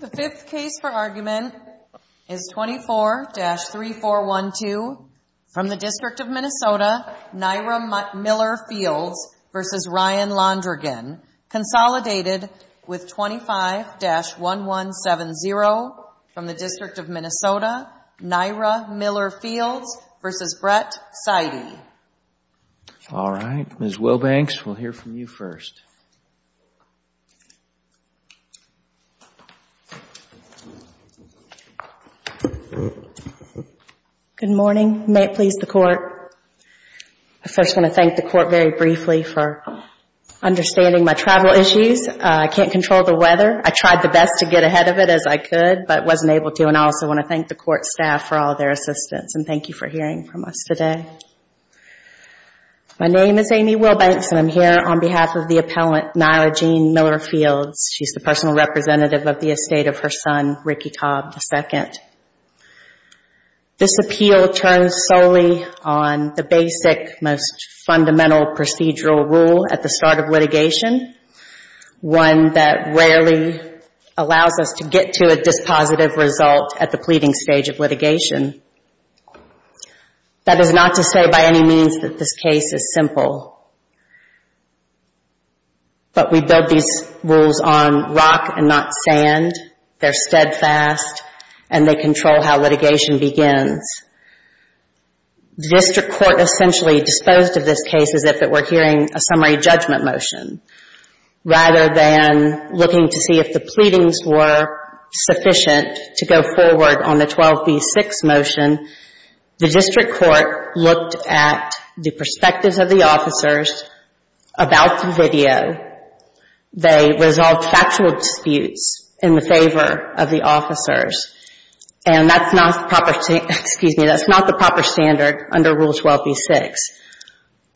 The fifth case for argument is 24-3412 from the District of Minnesota, Nyra Miller-Fields v. Ryan Londregan, consolidated with 25-1170 from the District of Minnesota, Nyra Miller-Fields v. Brett Seide. All right. Ms. Wilbanks, we'll hear from you first. Good morning. May it please the Court. I first want to thank the Court very briefly for understanding my travel issues. I can't control the weather. I tried the best to get ahead of it as I could, but wasn't able to. And I also want to thank the Court staff for all their assistance. And thank you for hearing from us today. My name is Amy Wilbanks, and I'm here on behalf of the appellant, Nyra Jean Miller-Fields. She's the personal representative of the estate of her son, Ricky Cobb II. This appeal turns solely on the basic, most fundamental procedural rule at the start of litigation, one that rarely allows us to get to a dispositive result at the pleading stage of litigation. That is not to say by any means that this case is simple, but we build these rules on rock and not sand. They're steadfast, and they control how litigation begins. District Court essentially disposed of this case as if it were hearing a summary judgment motion rather than looking to see if the pleadings were sufficient to go forward on the 12th v. 6 motion. The District Court looked at the perspectives of the officers about the video. They resolved factual disputes in favor of the officers. And that's not the proper standard under Rule 12 v. 6.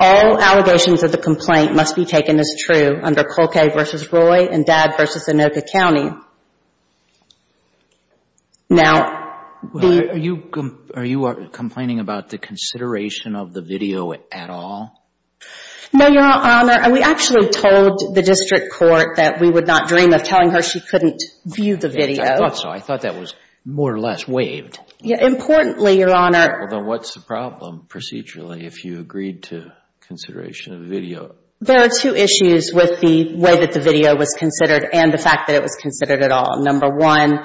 All allegations of the complaint must be taken as true under Volkay v. Roy and Dabb v. Anoka County. Are you complaining about the consideration of the video at all? No, Your Honor. We actually told the District Court that we would not dream of telling her she couldn't view the video. I thought so. I thought that was more or less waived. Importantly, Your Honor... Well, then what's the problem procedurally if you agreed to consideration of the video? There are two issues with the way that the video was considered and the fact that it was considered at all. Number one,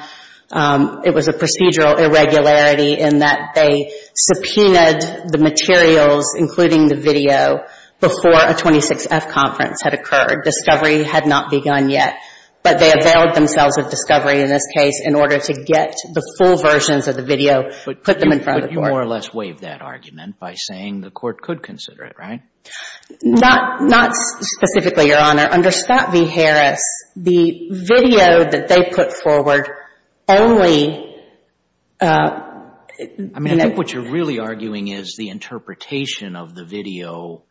it was a procedural irregularity in that they subpoenaed the materials, including the video, before a 26F conference had occurred. Discovery had not begun yet. But they availed themselves of discovery in this case in order to get the full versions of the video, put them in front of the Court. But you more or less waived that argument by saying the Court could consider it, right? Not specifically, Your Honor. Under Scott v. Harris, the video that they put forward only... I mean, I think what you're really arguing is the interpretation of the video.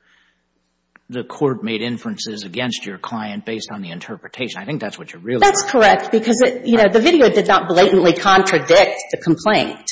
The Court made inferences against your client based on the interpretation. I think that's what you're really... That's correct because the video did not blatantly contradict the complaint.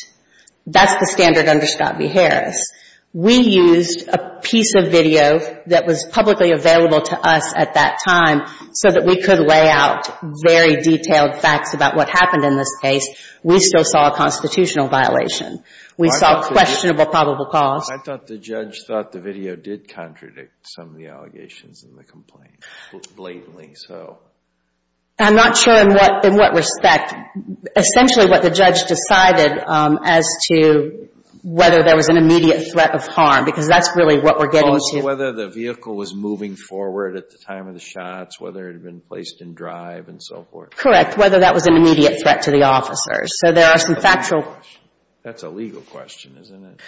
That's the standard under Scott v. Harris. We used a piece of video that was publicly available to us at that time so that we could lay out very detailed facts about what happened in this case. We still saw a constitutional violation. We saw questionable probable cause. I thought the judge thought the video did contradict some of the allegations in the complaint, blatantly. I'm not sure in what respect. Essentially what the judge decided as to whether there was an immediate threat of harm because that's really what we're getting to. Also whether the vehicle was moving forward at the time of the shots, whether it had been placed in drive and so forth. Correct. Whether that was an immediate threat to the officers. So there are some factual... That's a legal question, isn't it?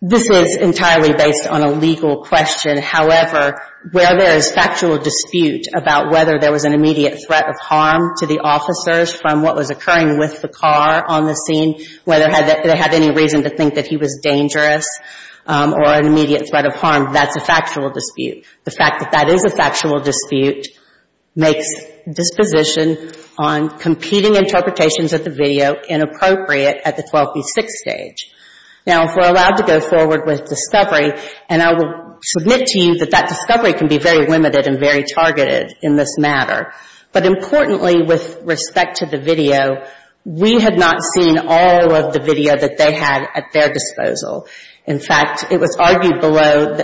This is entirely based on a legal question. However, where there is factual dispute about whether there was an immediate threat of harm to the officers from what was occurring with the car on the scene, whether they had any reason to think that he was dangerous or an immediate threat of harm, that's a factual dispute. The fact that that is a factual dispute makes disposition on competing interpretations of Now, if we're allowed to go forward with discovery, and I will submit to you that that discovery can be very limited and very targeted in this matter, but importantly with respect to the video, we had not seen all of the video that they had at their disposal. In fact, it was argued below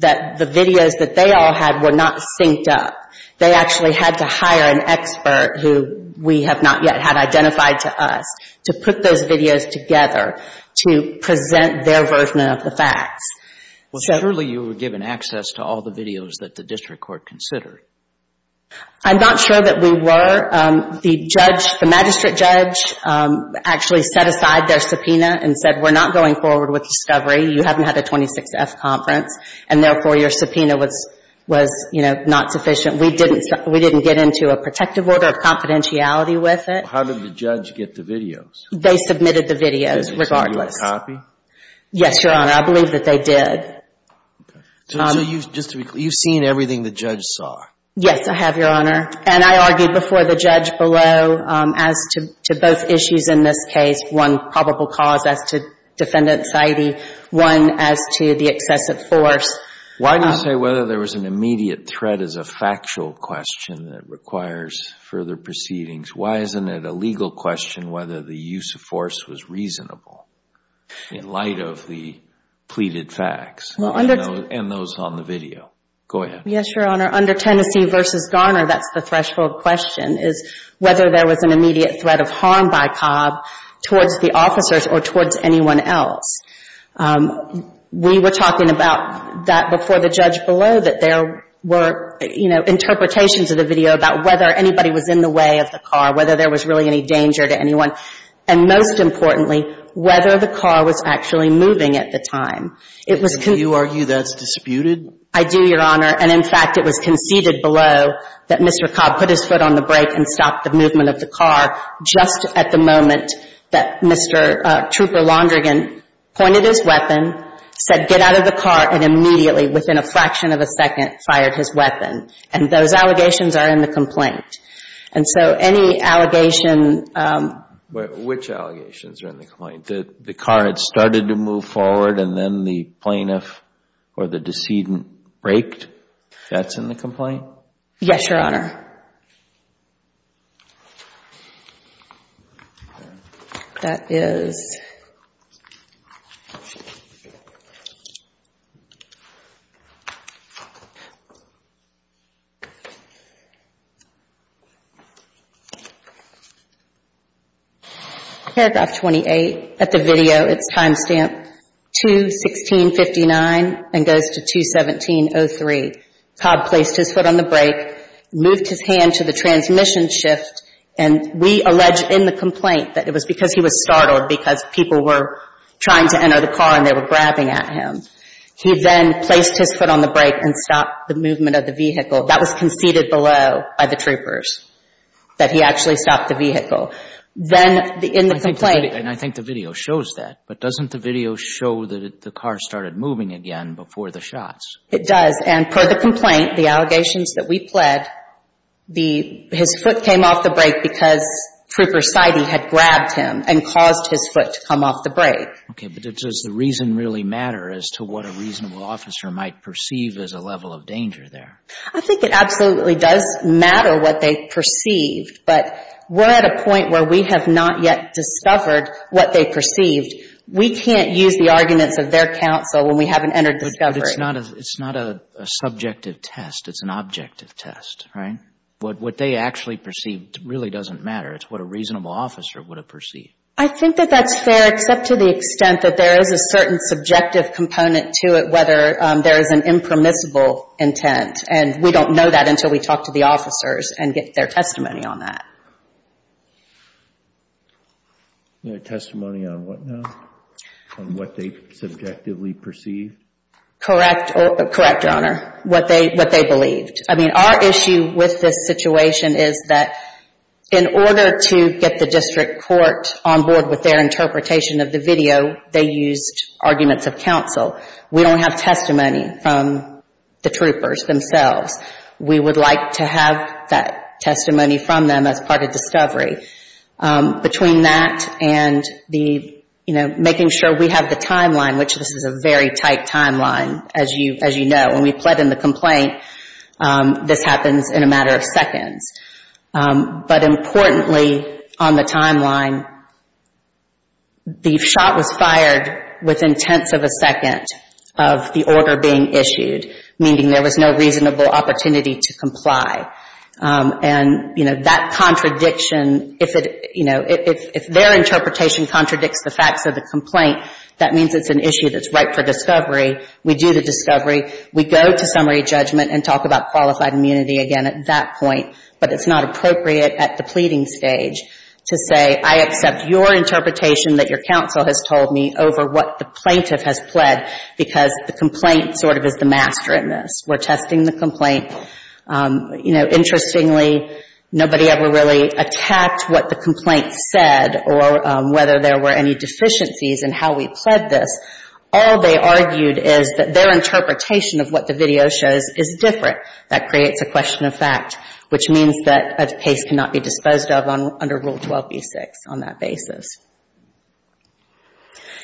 that the videos that they all had were not synced up. They actually had to hire an expert who we have not yet had identified to us to put those videos together to present their version of the facts. Well, surely you were given access to all the videos that the district court considered. I'm not sure that we were. The judge, the magistrate judge, actually set aside their subpoena and said, we're not going forward with discovery. You haven't had a 26F conference, and therefore your subpoena was, you know, not sufficient. We didn't get into a protective order of confidentiality with it. So how did the judge get the videos? They submitted the videos, regardless. Did they send you a copy? Yes, Your Honor. I believe that they did. Okay. So you've seen everything the judge saw? Yes, I have, Your Honor. And I argued before the judge below as to both issues in this case, one probable cause as to defendant's identity, one as to the excessive force. Why do you say whether there was an immediate threat is a factual question that requires further proceedings? Why isn't it a legal question whether the use of force was reasonable in light of the pleaded facts and those on the video? Go ahead. Yes, Your Honor. Under Tennessee v. Garner, that's the threshold question, is whether there was an immediate threat of harm by Cobb towards the officers or towards anyone else. We were talking about that before the judge below, that there were, you know, whether anybody was in the way of the car, whether there was really any danger to anyone, and most importantly, whether the car was actually moving at the time. Do you argue that's disputed? I do, Your Honor. And in fact, it was conceded below that Mr. Cobb put his foot on the brake and stopped the movement of the car just at the moment that Mr. Trooper Londrigan pointed his weapon, said, get out of the car, and immediately, within a fraction of a second, fired his weapon. And those allegations are in the complaint. And so any allegation Which allegations are in the complaint? The car had started to move forward and then the plaintiff or the decedent braked? That's in the complaint? Yes, Your Honor. That is paragraph 28. At the video, it's time stamp 2-16-59 and goes to 2-17-03. Cobb placed his foot on the brake, moved his hand to the transmission shift, and we allege in the complaint that it was because he was startled because people were trying to enter the car and they were grabbing at him. He then placed his foot on the brake and stopped the movement of the vehicle. That was conceded below by the troopers, that he actually stopped the vehicle. Then in the complaint And I think the video shows that. But doesn't the video show that the car started moving again before the shots? It does. And per the complaint, the allegations that we pled, his foot came off the brake because Trooper Seide had grabbed him and caused his foot to come off the brake. Okay. But does the reason really matter as to what a reasonable officer might perceive as a level of danger there? I think it absolutely does matter what they perceived. But we're at a point where we have not yet discovered what they perceived. We can't use the arguments of their counsel when we haven't entered discovery. But it's not a subjective test. It's an objective test, right? What they actually perceived really doesn't matter. It's what a reasonable officer would have perceived. I think that that's fair, except to the extent that there is a certain subjective component to it, whether there is an impermissible intent. And we don't know that until we talk to the officers and get their testimony on that. Their testimony on what now? On what they subjectively perceived? Correct, Your Honor, what they believed. I mean, our issue with this situation is that in order to get the district court on board with their interpretation of the video, they used arguments of counsel. We don't have testimony from the troopers themselves. We would like to have that testimony from them as part of discovery. Between that and making sure we have the timeline, which this is a very tight timeline, as you know, when we pled in the complaint, this happens in a matter of seconds. But importantly, on the timeline, the shot was fired within tenths of a second. And, you know, that contradiction, if it, you know, if their interpretation contradicts the facts of the complaint, that means it's an issue that's ripe for discovery. We do the discovery. We go to summary judgment and talk about qualified immunity again at that point. But it's not appropriate at the pleading stage to say, I accept your interpretation that your counsel has told me over what the plaintiff has pled, because the complaint sort of is the master in this. We're testing the complaint. You know, interestingly, nobody ever really attacked what the complaint said or whether there were any deficiencies in how we pled this. All they argued is that their interpretation of what the video shows is different. That creates a question of fact, which means that a case cannot be disposed of under Rule 12b-6 on that basis.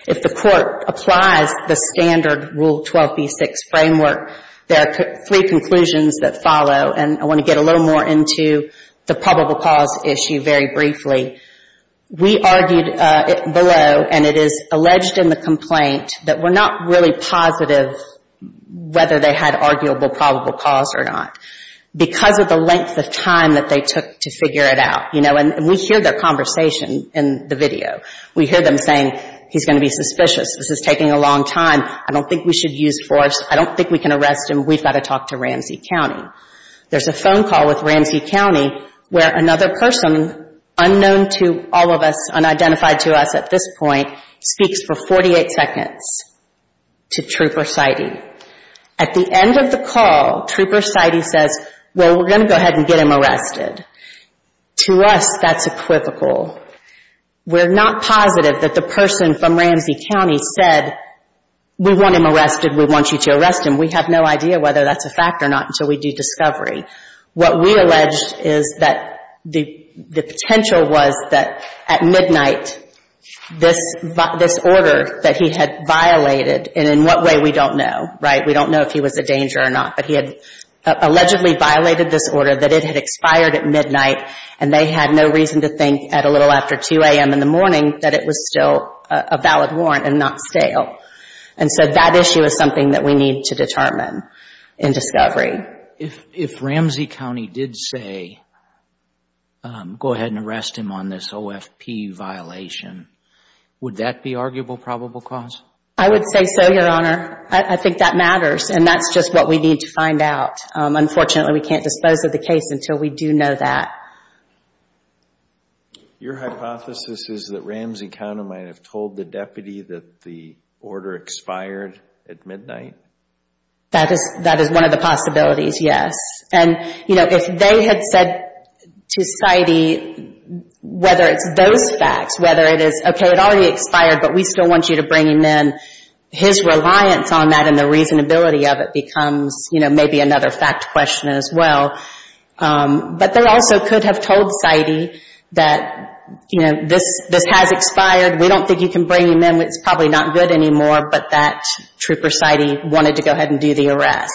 If the court applies the standard Rule 12b-6 framework, there are three conclusions that follow. And I want to get a little more into the probable cause issue very briefly. We argued below, and it is alleged in the complaint, that we're not really positive whether they had arguable probable cause or not because of the length of time that they took to figure it out. You know, and we hear their conversation in the video. We hear them saying, he's going to be suspicious. This is taking a long time. I don't think we should use force. I don't think we can arrest him. We've got to talk to Ramsey County. There's a phone call with Ramsey County where another person unknown to all of us, unidentified to us at this point, speaks for 48 seconds to Trooper Seide. At the end of the call, Trooper Seide says, well, we're going to go ahead and get him arrested. To us, that's equivocal. We're not positive that the person from Ramsey County said, we want him arrested, we want you to arrest him. We have no idea whether that's a fact or not until we do discovery. What we allege is that the potential was that at midnight, this order that he had violated, and in what way, we don't know, right? We don't know if he was a danger or not, but he had allegedly violated this order that it had expired at midnight and they had no reason to think at a little after 2 a.m. in the morning that it was still a valid warrant and not stale. That issue is something that we need to determine in discovery. If Ramsey County did say, go ahead and arrest him on this OFP violation, would that be arguable probable cause? I would say so, Your Honor. I think that matters and that's just what we need to find out. Unfortunately, we can't dispose of the case until we do know that. Your hypothesis is that Ramsey County might have told the deputy that the order expired at midnight? That is one of the possibilities, yes. If they had said to Seide, whether it's those facts, whether it is, okay, it already expired, but we still want you to bring him in, his reliance on that and the reasonability of it becomes, you know, maybe another fact question as well. But they also could have told Seide that, you know, this has expired. We don't think you can bring him in. It's probably not good anymore, but that trooper Seide wanted to go ahead and do the arrest.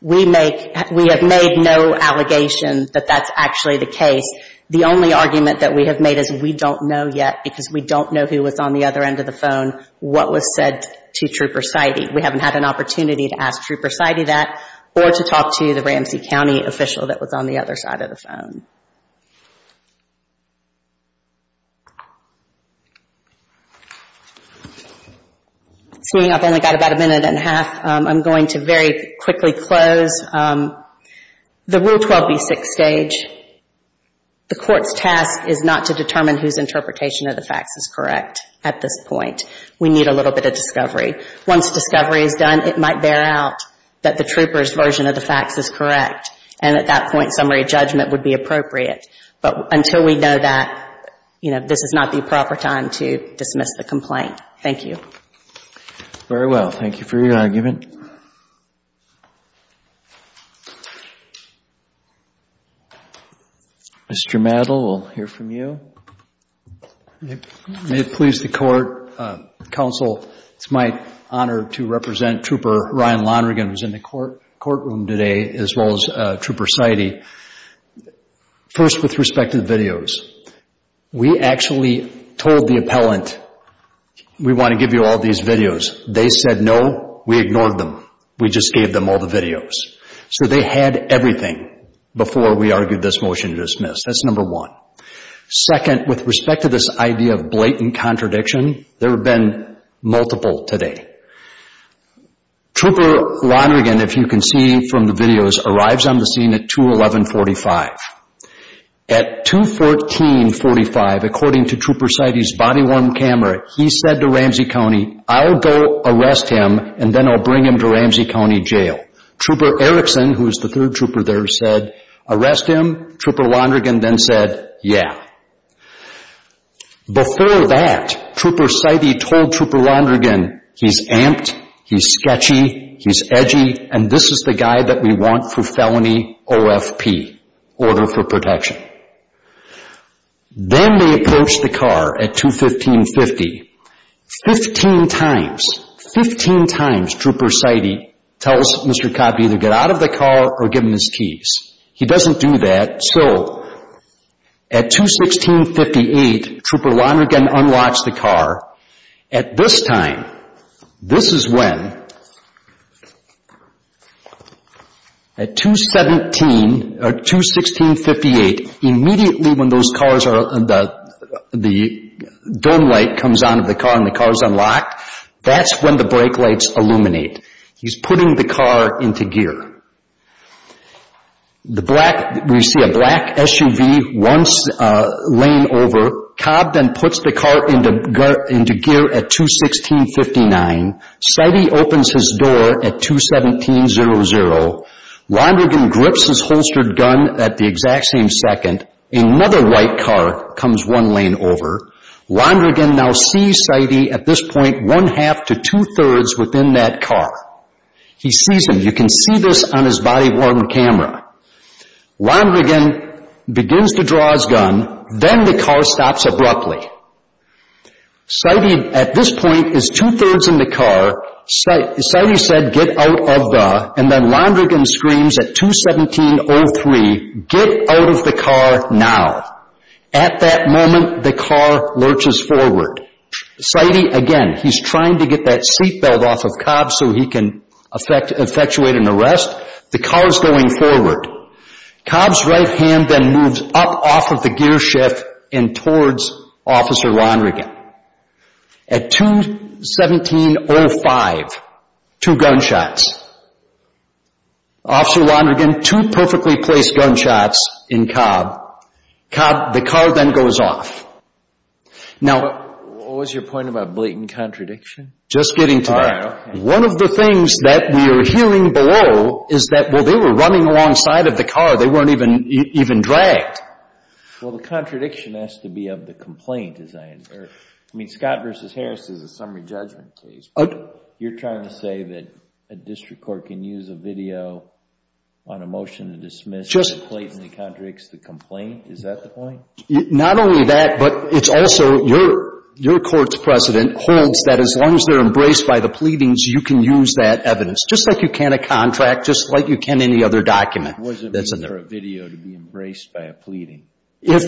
We have made no allegation that that's actually the case. The only argument that we have made is we don't know yet because we don't know who was on the other end of the phone, what was said to trooper Seide. We haven't had an opportunity to ask trooper Seide that or to talk to the Ramsey County official that was on the other side of the phone. Seeing I've only got about a minute and a half, I'm going to very quickly close. The Rule 12b6 stage, the Court's task is not to determine whose interpretation of the facts is correct at this point. We need a little bit of discovery. Once discovery is done, it might bear out that the trooper's version of the facts is correct, and at that point, summary judgment would be appropriate. But until we know that, you know, this is not the proper time to dismiss the complaint. Thank you. Very well. Thank you for your argument. Mr. Madl, we'll hear from you. May it please the Court, Counsel, it's my honor to represent Trooper Ryan Lonergan, who's in the courtroom today, as well as Trooper Seide. First, with respect to the videos, we actually told the appellant, we want to give you all these videos. They said no, we ignored them. We just gave them all the videos. So they had everything before we argued this motion to dismiss. That's number one. Second, with respect to this idea of blatant contradiction, there have been multiple today. Trooper Lonergan, if you can see from the videos, arrives on the scene at 2-11-45. At 2-14-45, according to Trooper Seide's body-worn camera, he said to Ramsey County, I'll go arrest him and then I'll bring him to Ramsey County Jail. Trooper Erickson, who is the third trooper there, said, arrest him. Trooper Lonergan then said, yeah. Before that, Trooper Seide told Trooper Lonergan, he's amped, he's sketchy, he's edgy, and this is the guy that we want for felony OFP, order for protection. Then they approached the car at 2-15-50. Fifteen times, fifteen times Trooper Seide tells Mr. Cobb to either get out of the car or give him his keys. He doesn't do that. So, at 2-16-58, Trooper Lonergan unlocks the car. At this time, this is when, at 2-16-58, immediately when those cars are, the dome light comes on in the car and the car is unlocked, that's when the brake lights illuminate. He's putting the car into gear. The black, we see a black SUV once lane over. Cobb then puts the car into gear at 2-16-59. Seide opens his door at 2-17-00. Lonergan grips his holstered gun at the exact same second. Another white car comes one lane over. Lonergan now sees Seide at this point one-half to two-thirds within that car. He sees him. You can see this on his body-worn camera. Lonergan begins to draw his gun. Then the car stops abruptly. Seide, at this point, is two-thirds in the car. Seide said, get out of the, and then Lonergan screams at 2-17-03, get out of the car now. At that moment, the car lurches forward. Seide, again, he's trying to get that seatbelt off of Cobb so he can effectuate an arrest. The car is going forward. Cobb's right hand then moves up off of the gear shift and towards Officer Lonergan. At 2-17-05, two gunshots. Officer Lonergan, two perfectly placed gunshots in Cobb. The car then goes off. What was your point about blatant contradiction? Just getting to that. All right, okay. One of the things that we are hearing below is that, well, they were running alongside of the car. They weren't even dragged. Well, the contradiction has to be of the complaint, as I infer. I mean, Scott v. Harris is a summary judgment case. You're trying to say that a district court can use a video on a motion to dismiss that blatantly contradicts the complaint? Is that the point? Not only that, but it's also your court's precedent holds that as long as they're embraced by the pleadings, you can use that evidence, just like you can a contract, just like you can any other document. It wasn't for a video to be embraced by a pleading. If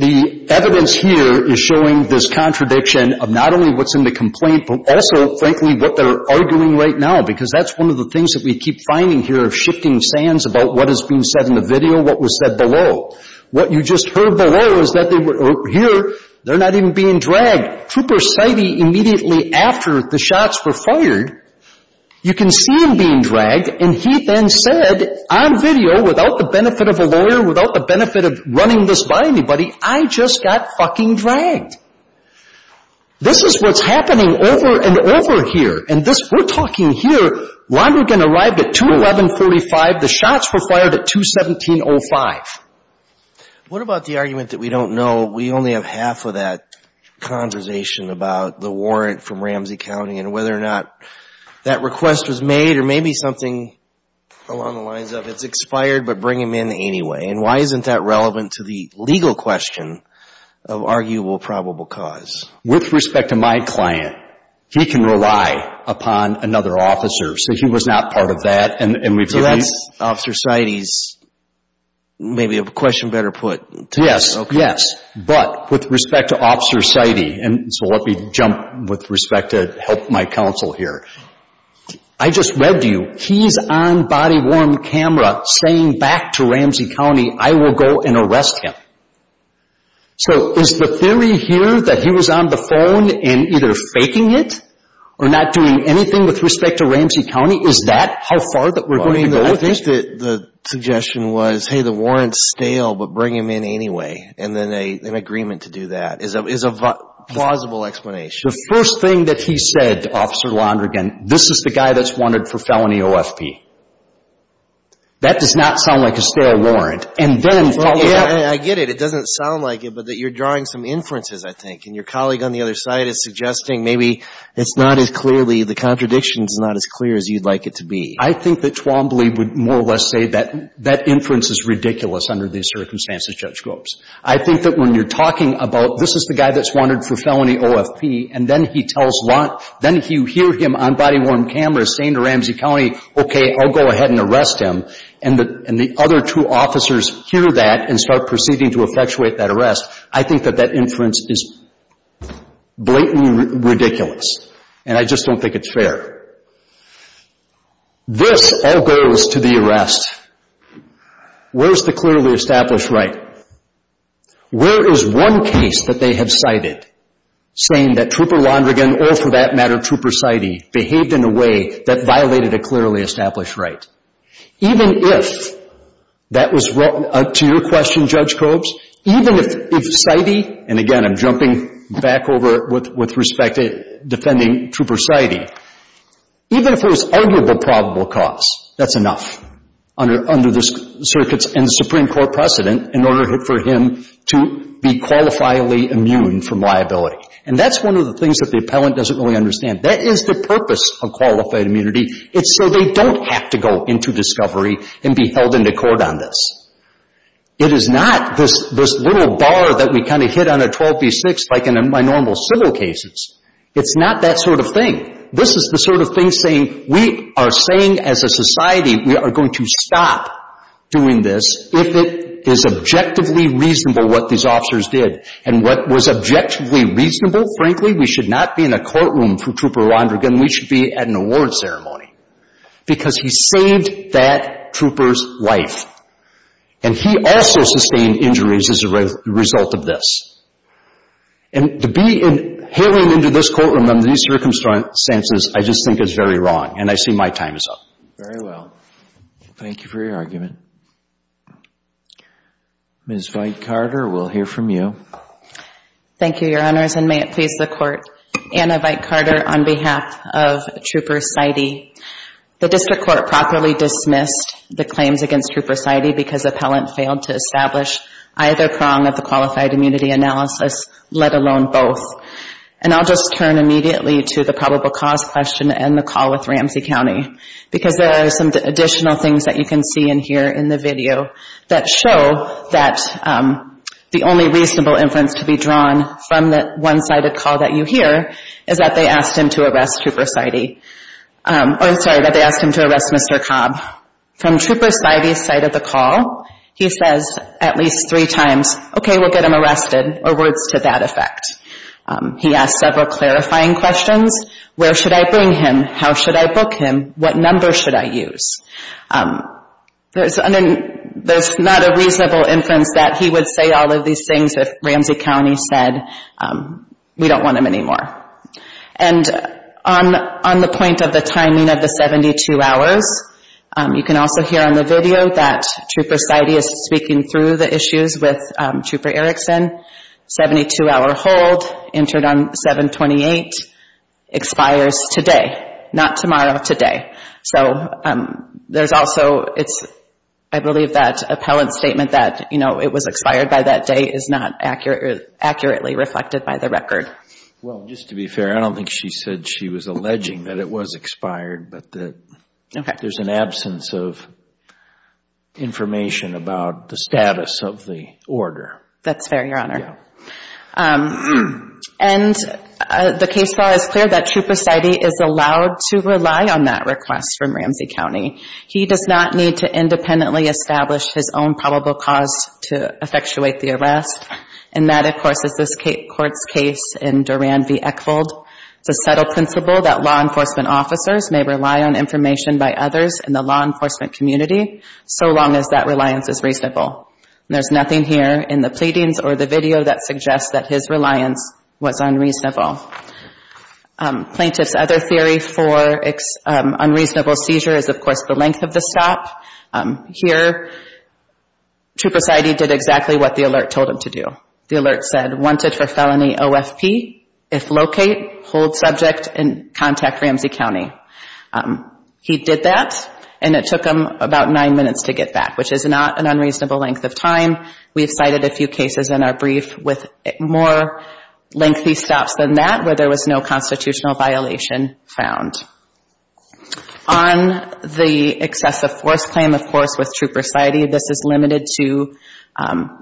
the evidence here is showing this contradiction of not only what's in the complaint, but also, frankly, what they're arguing right now, because that's one of the things that we keep finding here of shifting sands about what is being said in the video, what was said below. What you just heard below is that they were here. They're not even being dragged. Trooper Seide, immediately after the shots were fired, you can see him being dragged, and he then said on video, without the benefit of a lawyer, without the benefit of running this by anybody, I just got fucking dragged. This is what's happening over and over here. And this, we're talking here, Lonergan arrived at 2-11-45. The shots were fired at 2-17-05. What about the argument that we don't know? We only have half of that conversation about the warrant from Ramsey County and whether or not that request was made or maybe something along the lines of it's expired, but bring him in anyway. And why isn't that relevant to the legal question of arguable probable cause? With respect to my client, he can rely upon another officer. So he was not part of that. So that's Officer Seide's, maybe a question better put. Yes. Okay. But with respect to Officer Seide, and so let me jump with respect to help my counsel here. I just webbed you. He's on body-worn camera saying back to Ramsey County, I will go and arrest him. So is the theory here that he was on the phone and either faking it or not doing anything with respect to Ramsey County, is that how far that we're going to go with this? I think the suggestion was, hey, the warrant's stale, but bring him in anyway. And then an agreement to do that is a plausible explanation. The first thing that he said, Officer Lonergan, this is the guy that's wanted for felony OFP. That does not sound like a stale warrant. I get it. It doesn't sound like it, but that you're drawing some inferences, I think. And your colleague on the other side is suggesting maybe it's not as clearly, the contradiction is not as clear as you'd like it to be. I think that Twombly would more or less say that that inference is ridiculous under these circumstances, Judge Gropes. I think that when you're talking about this is the guy that's wanted for felony OFP, and then he tells Lont, then you hear him on body-worn camera saying to Ramsey County, okay, I'll go ahead and arrest him. And the other two officers hear that and start proceeding to effectuate that arrest, I think that that inference is blatantly ridiculous. And I just don't think it's fair. This all goes to the arrest. Where's the clearly established right? Where is one case that they have cited saying that Trooper Lonergan, or for that matter Trooper Seide, behaved in a way that violated a clearly established right? Even if that was, to your question, Judge Gropes, even if Seide, and again, I'm jumping back over it with respect to defending Trooper Seide, even if there was arguable probable cause, that's enough under this circuit's and Supreme Court precedent in order for him to be qualifiably immune from liability. And that's one of the things that the appellant doesn't really understand. That is the purpose of qualified immunity. It's so they don't have to go into discovery and be held into court on this. It is not this little bar that we kind of hit on a 12 v. 6 like in my normal civil cases. It's not that sort of thing. This is the sort of thing saying, we are saying as a society, we are going to stop doing this if it is objectively reasonable what these officers did. And what was objectively reasonable, frankly, we should not be in a courtroom for this testimony because he saved that trooper's life. And he also sustained injuries as a result of this. And to be hailing into this courtroom under these circumstances, I just think it's very wrong, and I see my time is up. Very well. Thank you for your argument. Ms. Veit-Carter, we'll hear from you. Thank you, Your Honors, and may it please the Court, Anna Veit-Carter on behalf of Trooper Seide. The District Court properly dismissed the claims against Trooper Seide because appellant failed to establish either prong of the qualified immunity analysis, let alone both. And I'll just turn immediately to the probable cause question and the call with Ramsey County because there are some additional things that you can see and hear in the video that show that the only reasonable inference to be drawn from the one-sided call that you hear is that they asked him to arrest Trooper Seide. I'm sorry, that they asked him to arrest Mr. Cobb. From Trooper Seide's side of the call, he says at least three times, okay, we'll get him arrested, or words to that effect. He asked several clarifying questions. Where should I bring him? How should I book him? What number should I use? There's not a reasonable inference that he would say all of these things if Ramsey County said we don't want him anymore. And on the point of the timing of the 72 hours, you can also hear on the video that Trooper Seide is speaking through the issues with Trooper Erickson, 72-hour hold, entered on 7-28, expires today, not tomorrow, today. So there's also, I believe that appellant's statement that it was expired by that day is not accurately reflected by the record. Well, just to be fair, I don't think she said she was alleging that it was expired, but that there's an absence of information about the status of the order. That's fair, Your Honor. And the case law is clear that Trooper Seide is allowed to rely on that request from Ramsey County. He does not need to independently establish his own probable cause to effectuate the arrest. And that, of course, is this court's case in Duran v. Eckbold. It's a subtle principle that law enforcement officers may rely on information by others in the law enforcement community so long as that reliance is reasonable. And there's nothing here in the pleadings or the video that suggests that his reliance was unreasonable. Plaintiff's other theory for unreasonable seizure is, of course, the length of the stop. Here, Trooper Seide did exactly what the alert told him to do. The alert said, wanted for felony OFP. If locate, hold subject, and contact Ramsey County. He did that, and it took him about nine minutes to get back, which is not an unreasonable length of time. We've cited a few cases in our brief with more lengthy stops than that where there was no constitutional violation found. On the excessive force claim, of course, with Trooper Seide, this is limited to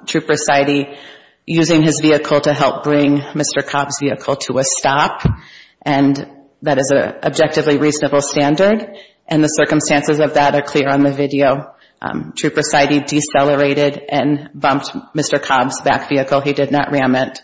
Trooper Seide using his vehicle to help bring Mr. Cobb's vehicle to a stop. And that is an objectively reasonable standard. And the circumstances of that are clear on the video. Trooper Seide decelerated and bumped Mr. Cobb's back vehicle. He did not ram it.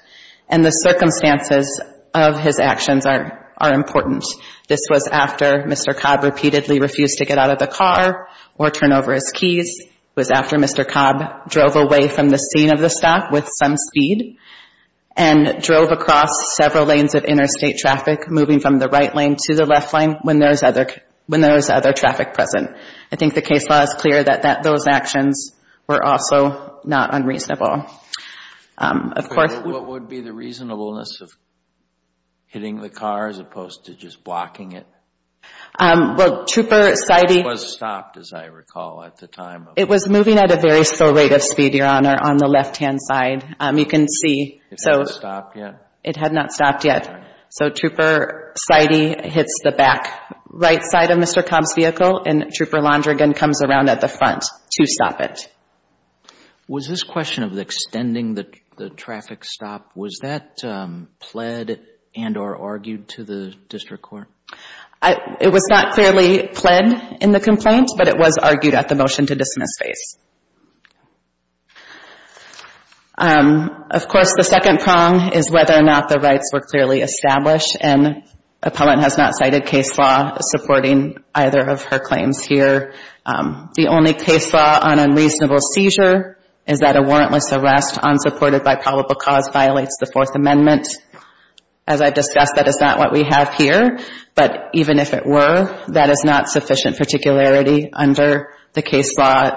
And the circumstances of his actions are important. This was after Mr. Cobb repeatedly refused to get out of the car or turn over his It was after Mr. Cobb drove away from the scene of the stop with some speed and drove across several lanes of interstate traffic, moving from the right lane to the left lane when there was other traffic present. I think the case law is clear that those actions were also not unreasonable. What would be the reasonableness of hitting the car as opposed to just blocking it? It was stopped, as I recall, at the time. It was moving at a very slow rate of speed, Your Honor, on the left-hand side. You can see. It had not stopped yet? It had not stopped yet. So Trooper Seide hits the back right side of Mr. Cobb's vehicle and Trooper comes around at the front to stop it. Was this question of extending the traffic stop, was that pled and or argued to the district court? It was not clearly pled in the complaint, but it was argued at the motion to dismiss phase. Of course, the second prong is whether or not the rights were clearly established, and appellant has not cited case law supporting either of her claims here. The only case law on unreasonable seizure is that a warrantless arrest unsupported by probable cause violates the Fourth Amendment. As I've discussed, that is not what we have here, but even if it were, that is not sufficient particularity under the case law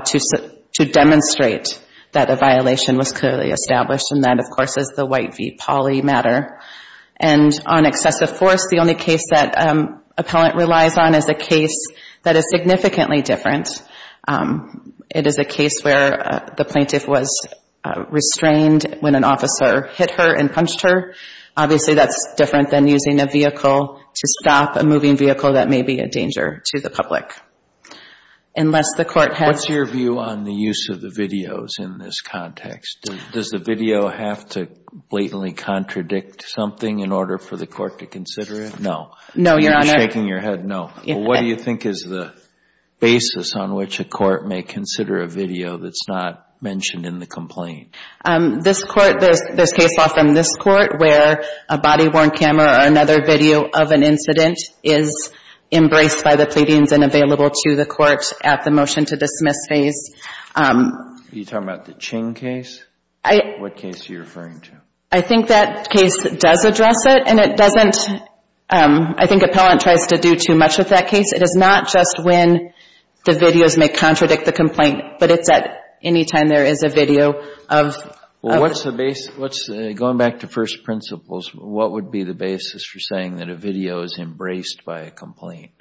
to demonstrate that a violation was clearly established, and that, of course, is the White v. Pauley matter. And on excessive force, the only case that appellant relies on is a case that is significantly different. It is a case where the plaintiff was restrained when an officer hit her and punched her. Obviously, that's different than using a vehicle to stop a moving vehicle that may be a danger to the public. What's your view on the use of the videos in this context? Does the video have to blatantly contradict something in order for the court to consider it? No. No, Your Honor. You're shaking your head no. What do you think is the basis on which a court may consider a video that's not mentioned in the complaint? This court, there's case law from this court where a body-worn camera or another video of an incident is embraced by the pleadings and available to the court at the motion to dismiss phase. Are you talking about the Ching case? I What case are you referring to? I think that case does address it, and it doesn't I think appellant tries to do too much with that case. It is not just when the videos may contradict the complaint, but it's at any time there is a video of Well, what's the basis? Going back to first principles, what would be the basis for saying that a video is embraced by a complaint?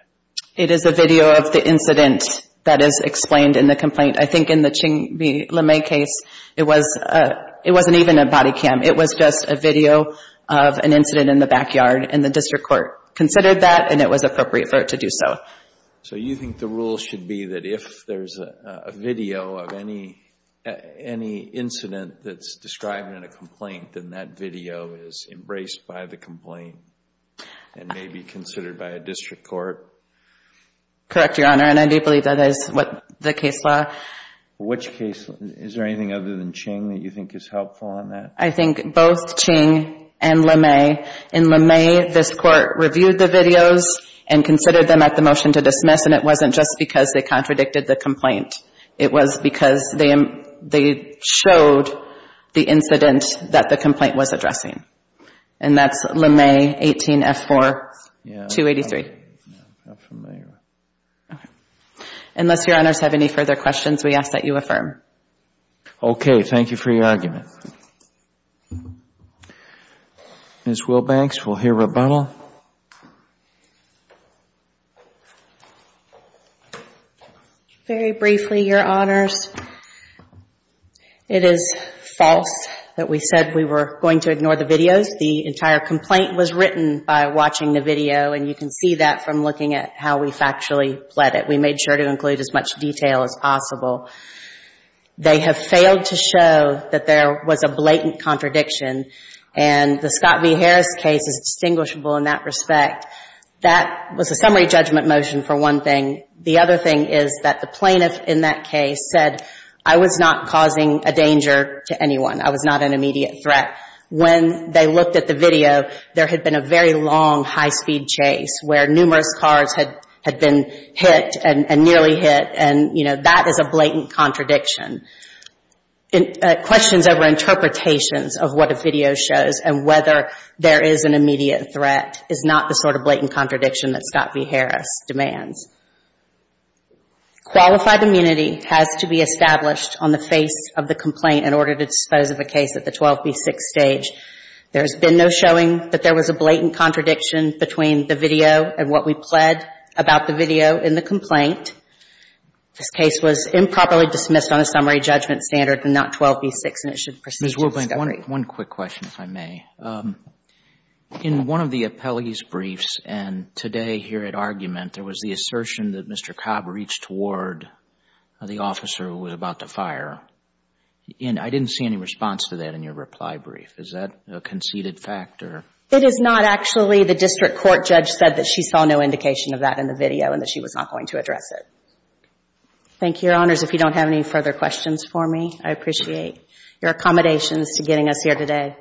It is a video of the incident that is explained in the complaint. I think in the Ching v. LeMay case, it wasn't even a body cam. It was just a video of an incident in the backyard, and the district court considered that, and it was appropriate for it to do so. So you think the rule should be that if there's a video of any incident that's described in a complaint, then that video is embraced by the complaint and may be considered by a district court? Correct, Your Honor, and I do believe that is what the case law Which case, is there anything other than Ching that you think is helpful on that? I think both Ching and LeMay. In LeMay, this court reviewed the videos and considered them at the motion to dismiss, and it wasn't just because they contradicted the complaint. It was because they showed the incident that the complaint was addressing, and that's LeMay 18F4-283. Yeah, I'm familiar. Unless Your Honors have any further questions, we ask that you affirm. Okay, thank you for your argument. Ms. Wilbanks, we'll hear rebuttal. Very briefly, Your Honors, it is false that we said we were going to ignore the videos. The entire complaint was written by watching the video, and you can see that from looking at how we factually pled it. We made sure to include as much detail as possible. They have failed to show that there was a blatant contradiction, and the Scott v. Harris case is distinguishable in that respect. That was a summary judgment motion for one thing. The other thing is that the plaintiff in that case said, I was not causing a danger to anyone. I was not an immediate threat. When they looked at the video, there had been a very long high-speed chase where numerous cars had been hit and nearly hit, and, you know, that is a blatant contradiction. Questions over interpretations of what a video shows and whether there is an immediate threat is not the sort of blatant contradiction that Scott v. Harris demands. Qualified immunity has to be established on the face of the complaint in order to dispose of a case at the 12 v. 6 stage. There has been no showing that there was a blatant contradiction between the video and what we pled about the video in the complaint. This case was improperly dismissed on a summary judgment standard and not 12 v. 6 and it should proceed to discovery. Ms. Woodbank, one quick question, if I may. In one of the appellee's briefs and today here at argument, there was the assertion that Mr. Cobb reached toward the officer who was about to fire. And I didn't see any response to that in your reply brief. Is that a conceded fact or? It is not actually. The district court judge said that she saw no indication of that in the video and that she was not going to address it. Thank you, Your Honors. If you don't have any further questions for me, I appreciate your accommodations to getting us here today.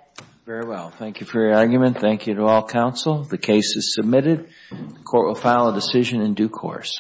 Very well. Thank you for your argument. Thank you to all counsel. The case is submitted. The court will file a decision in due course.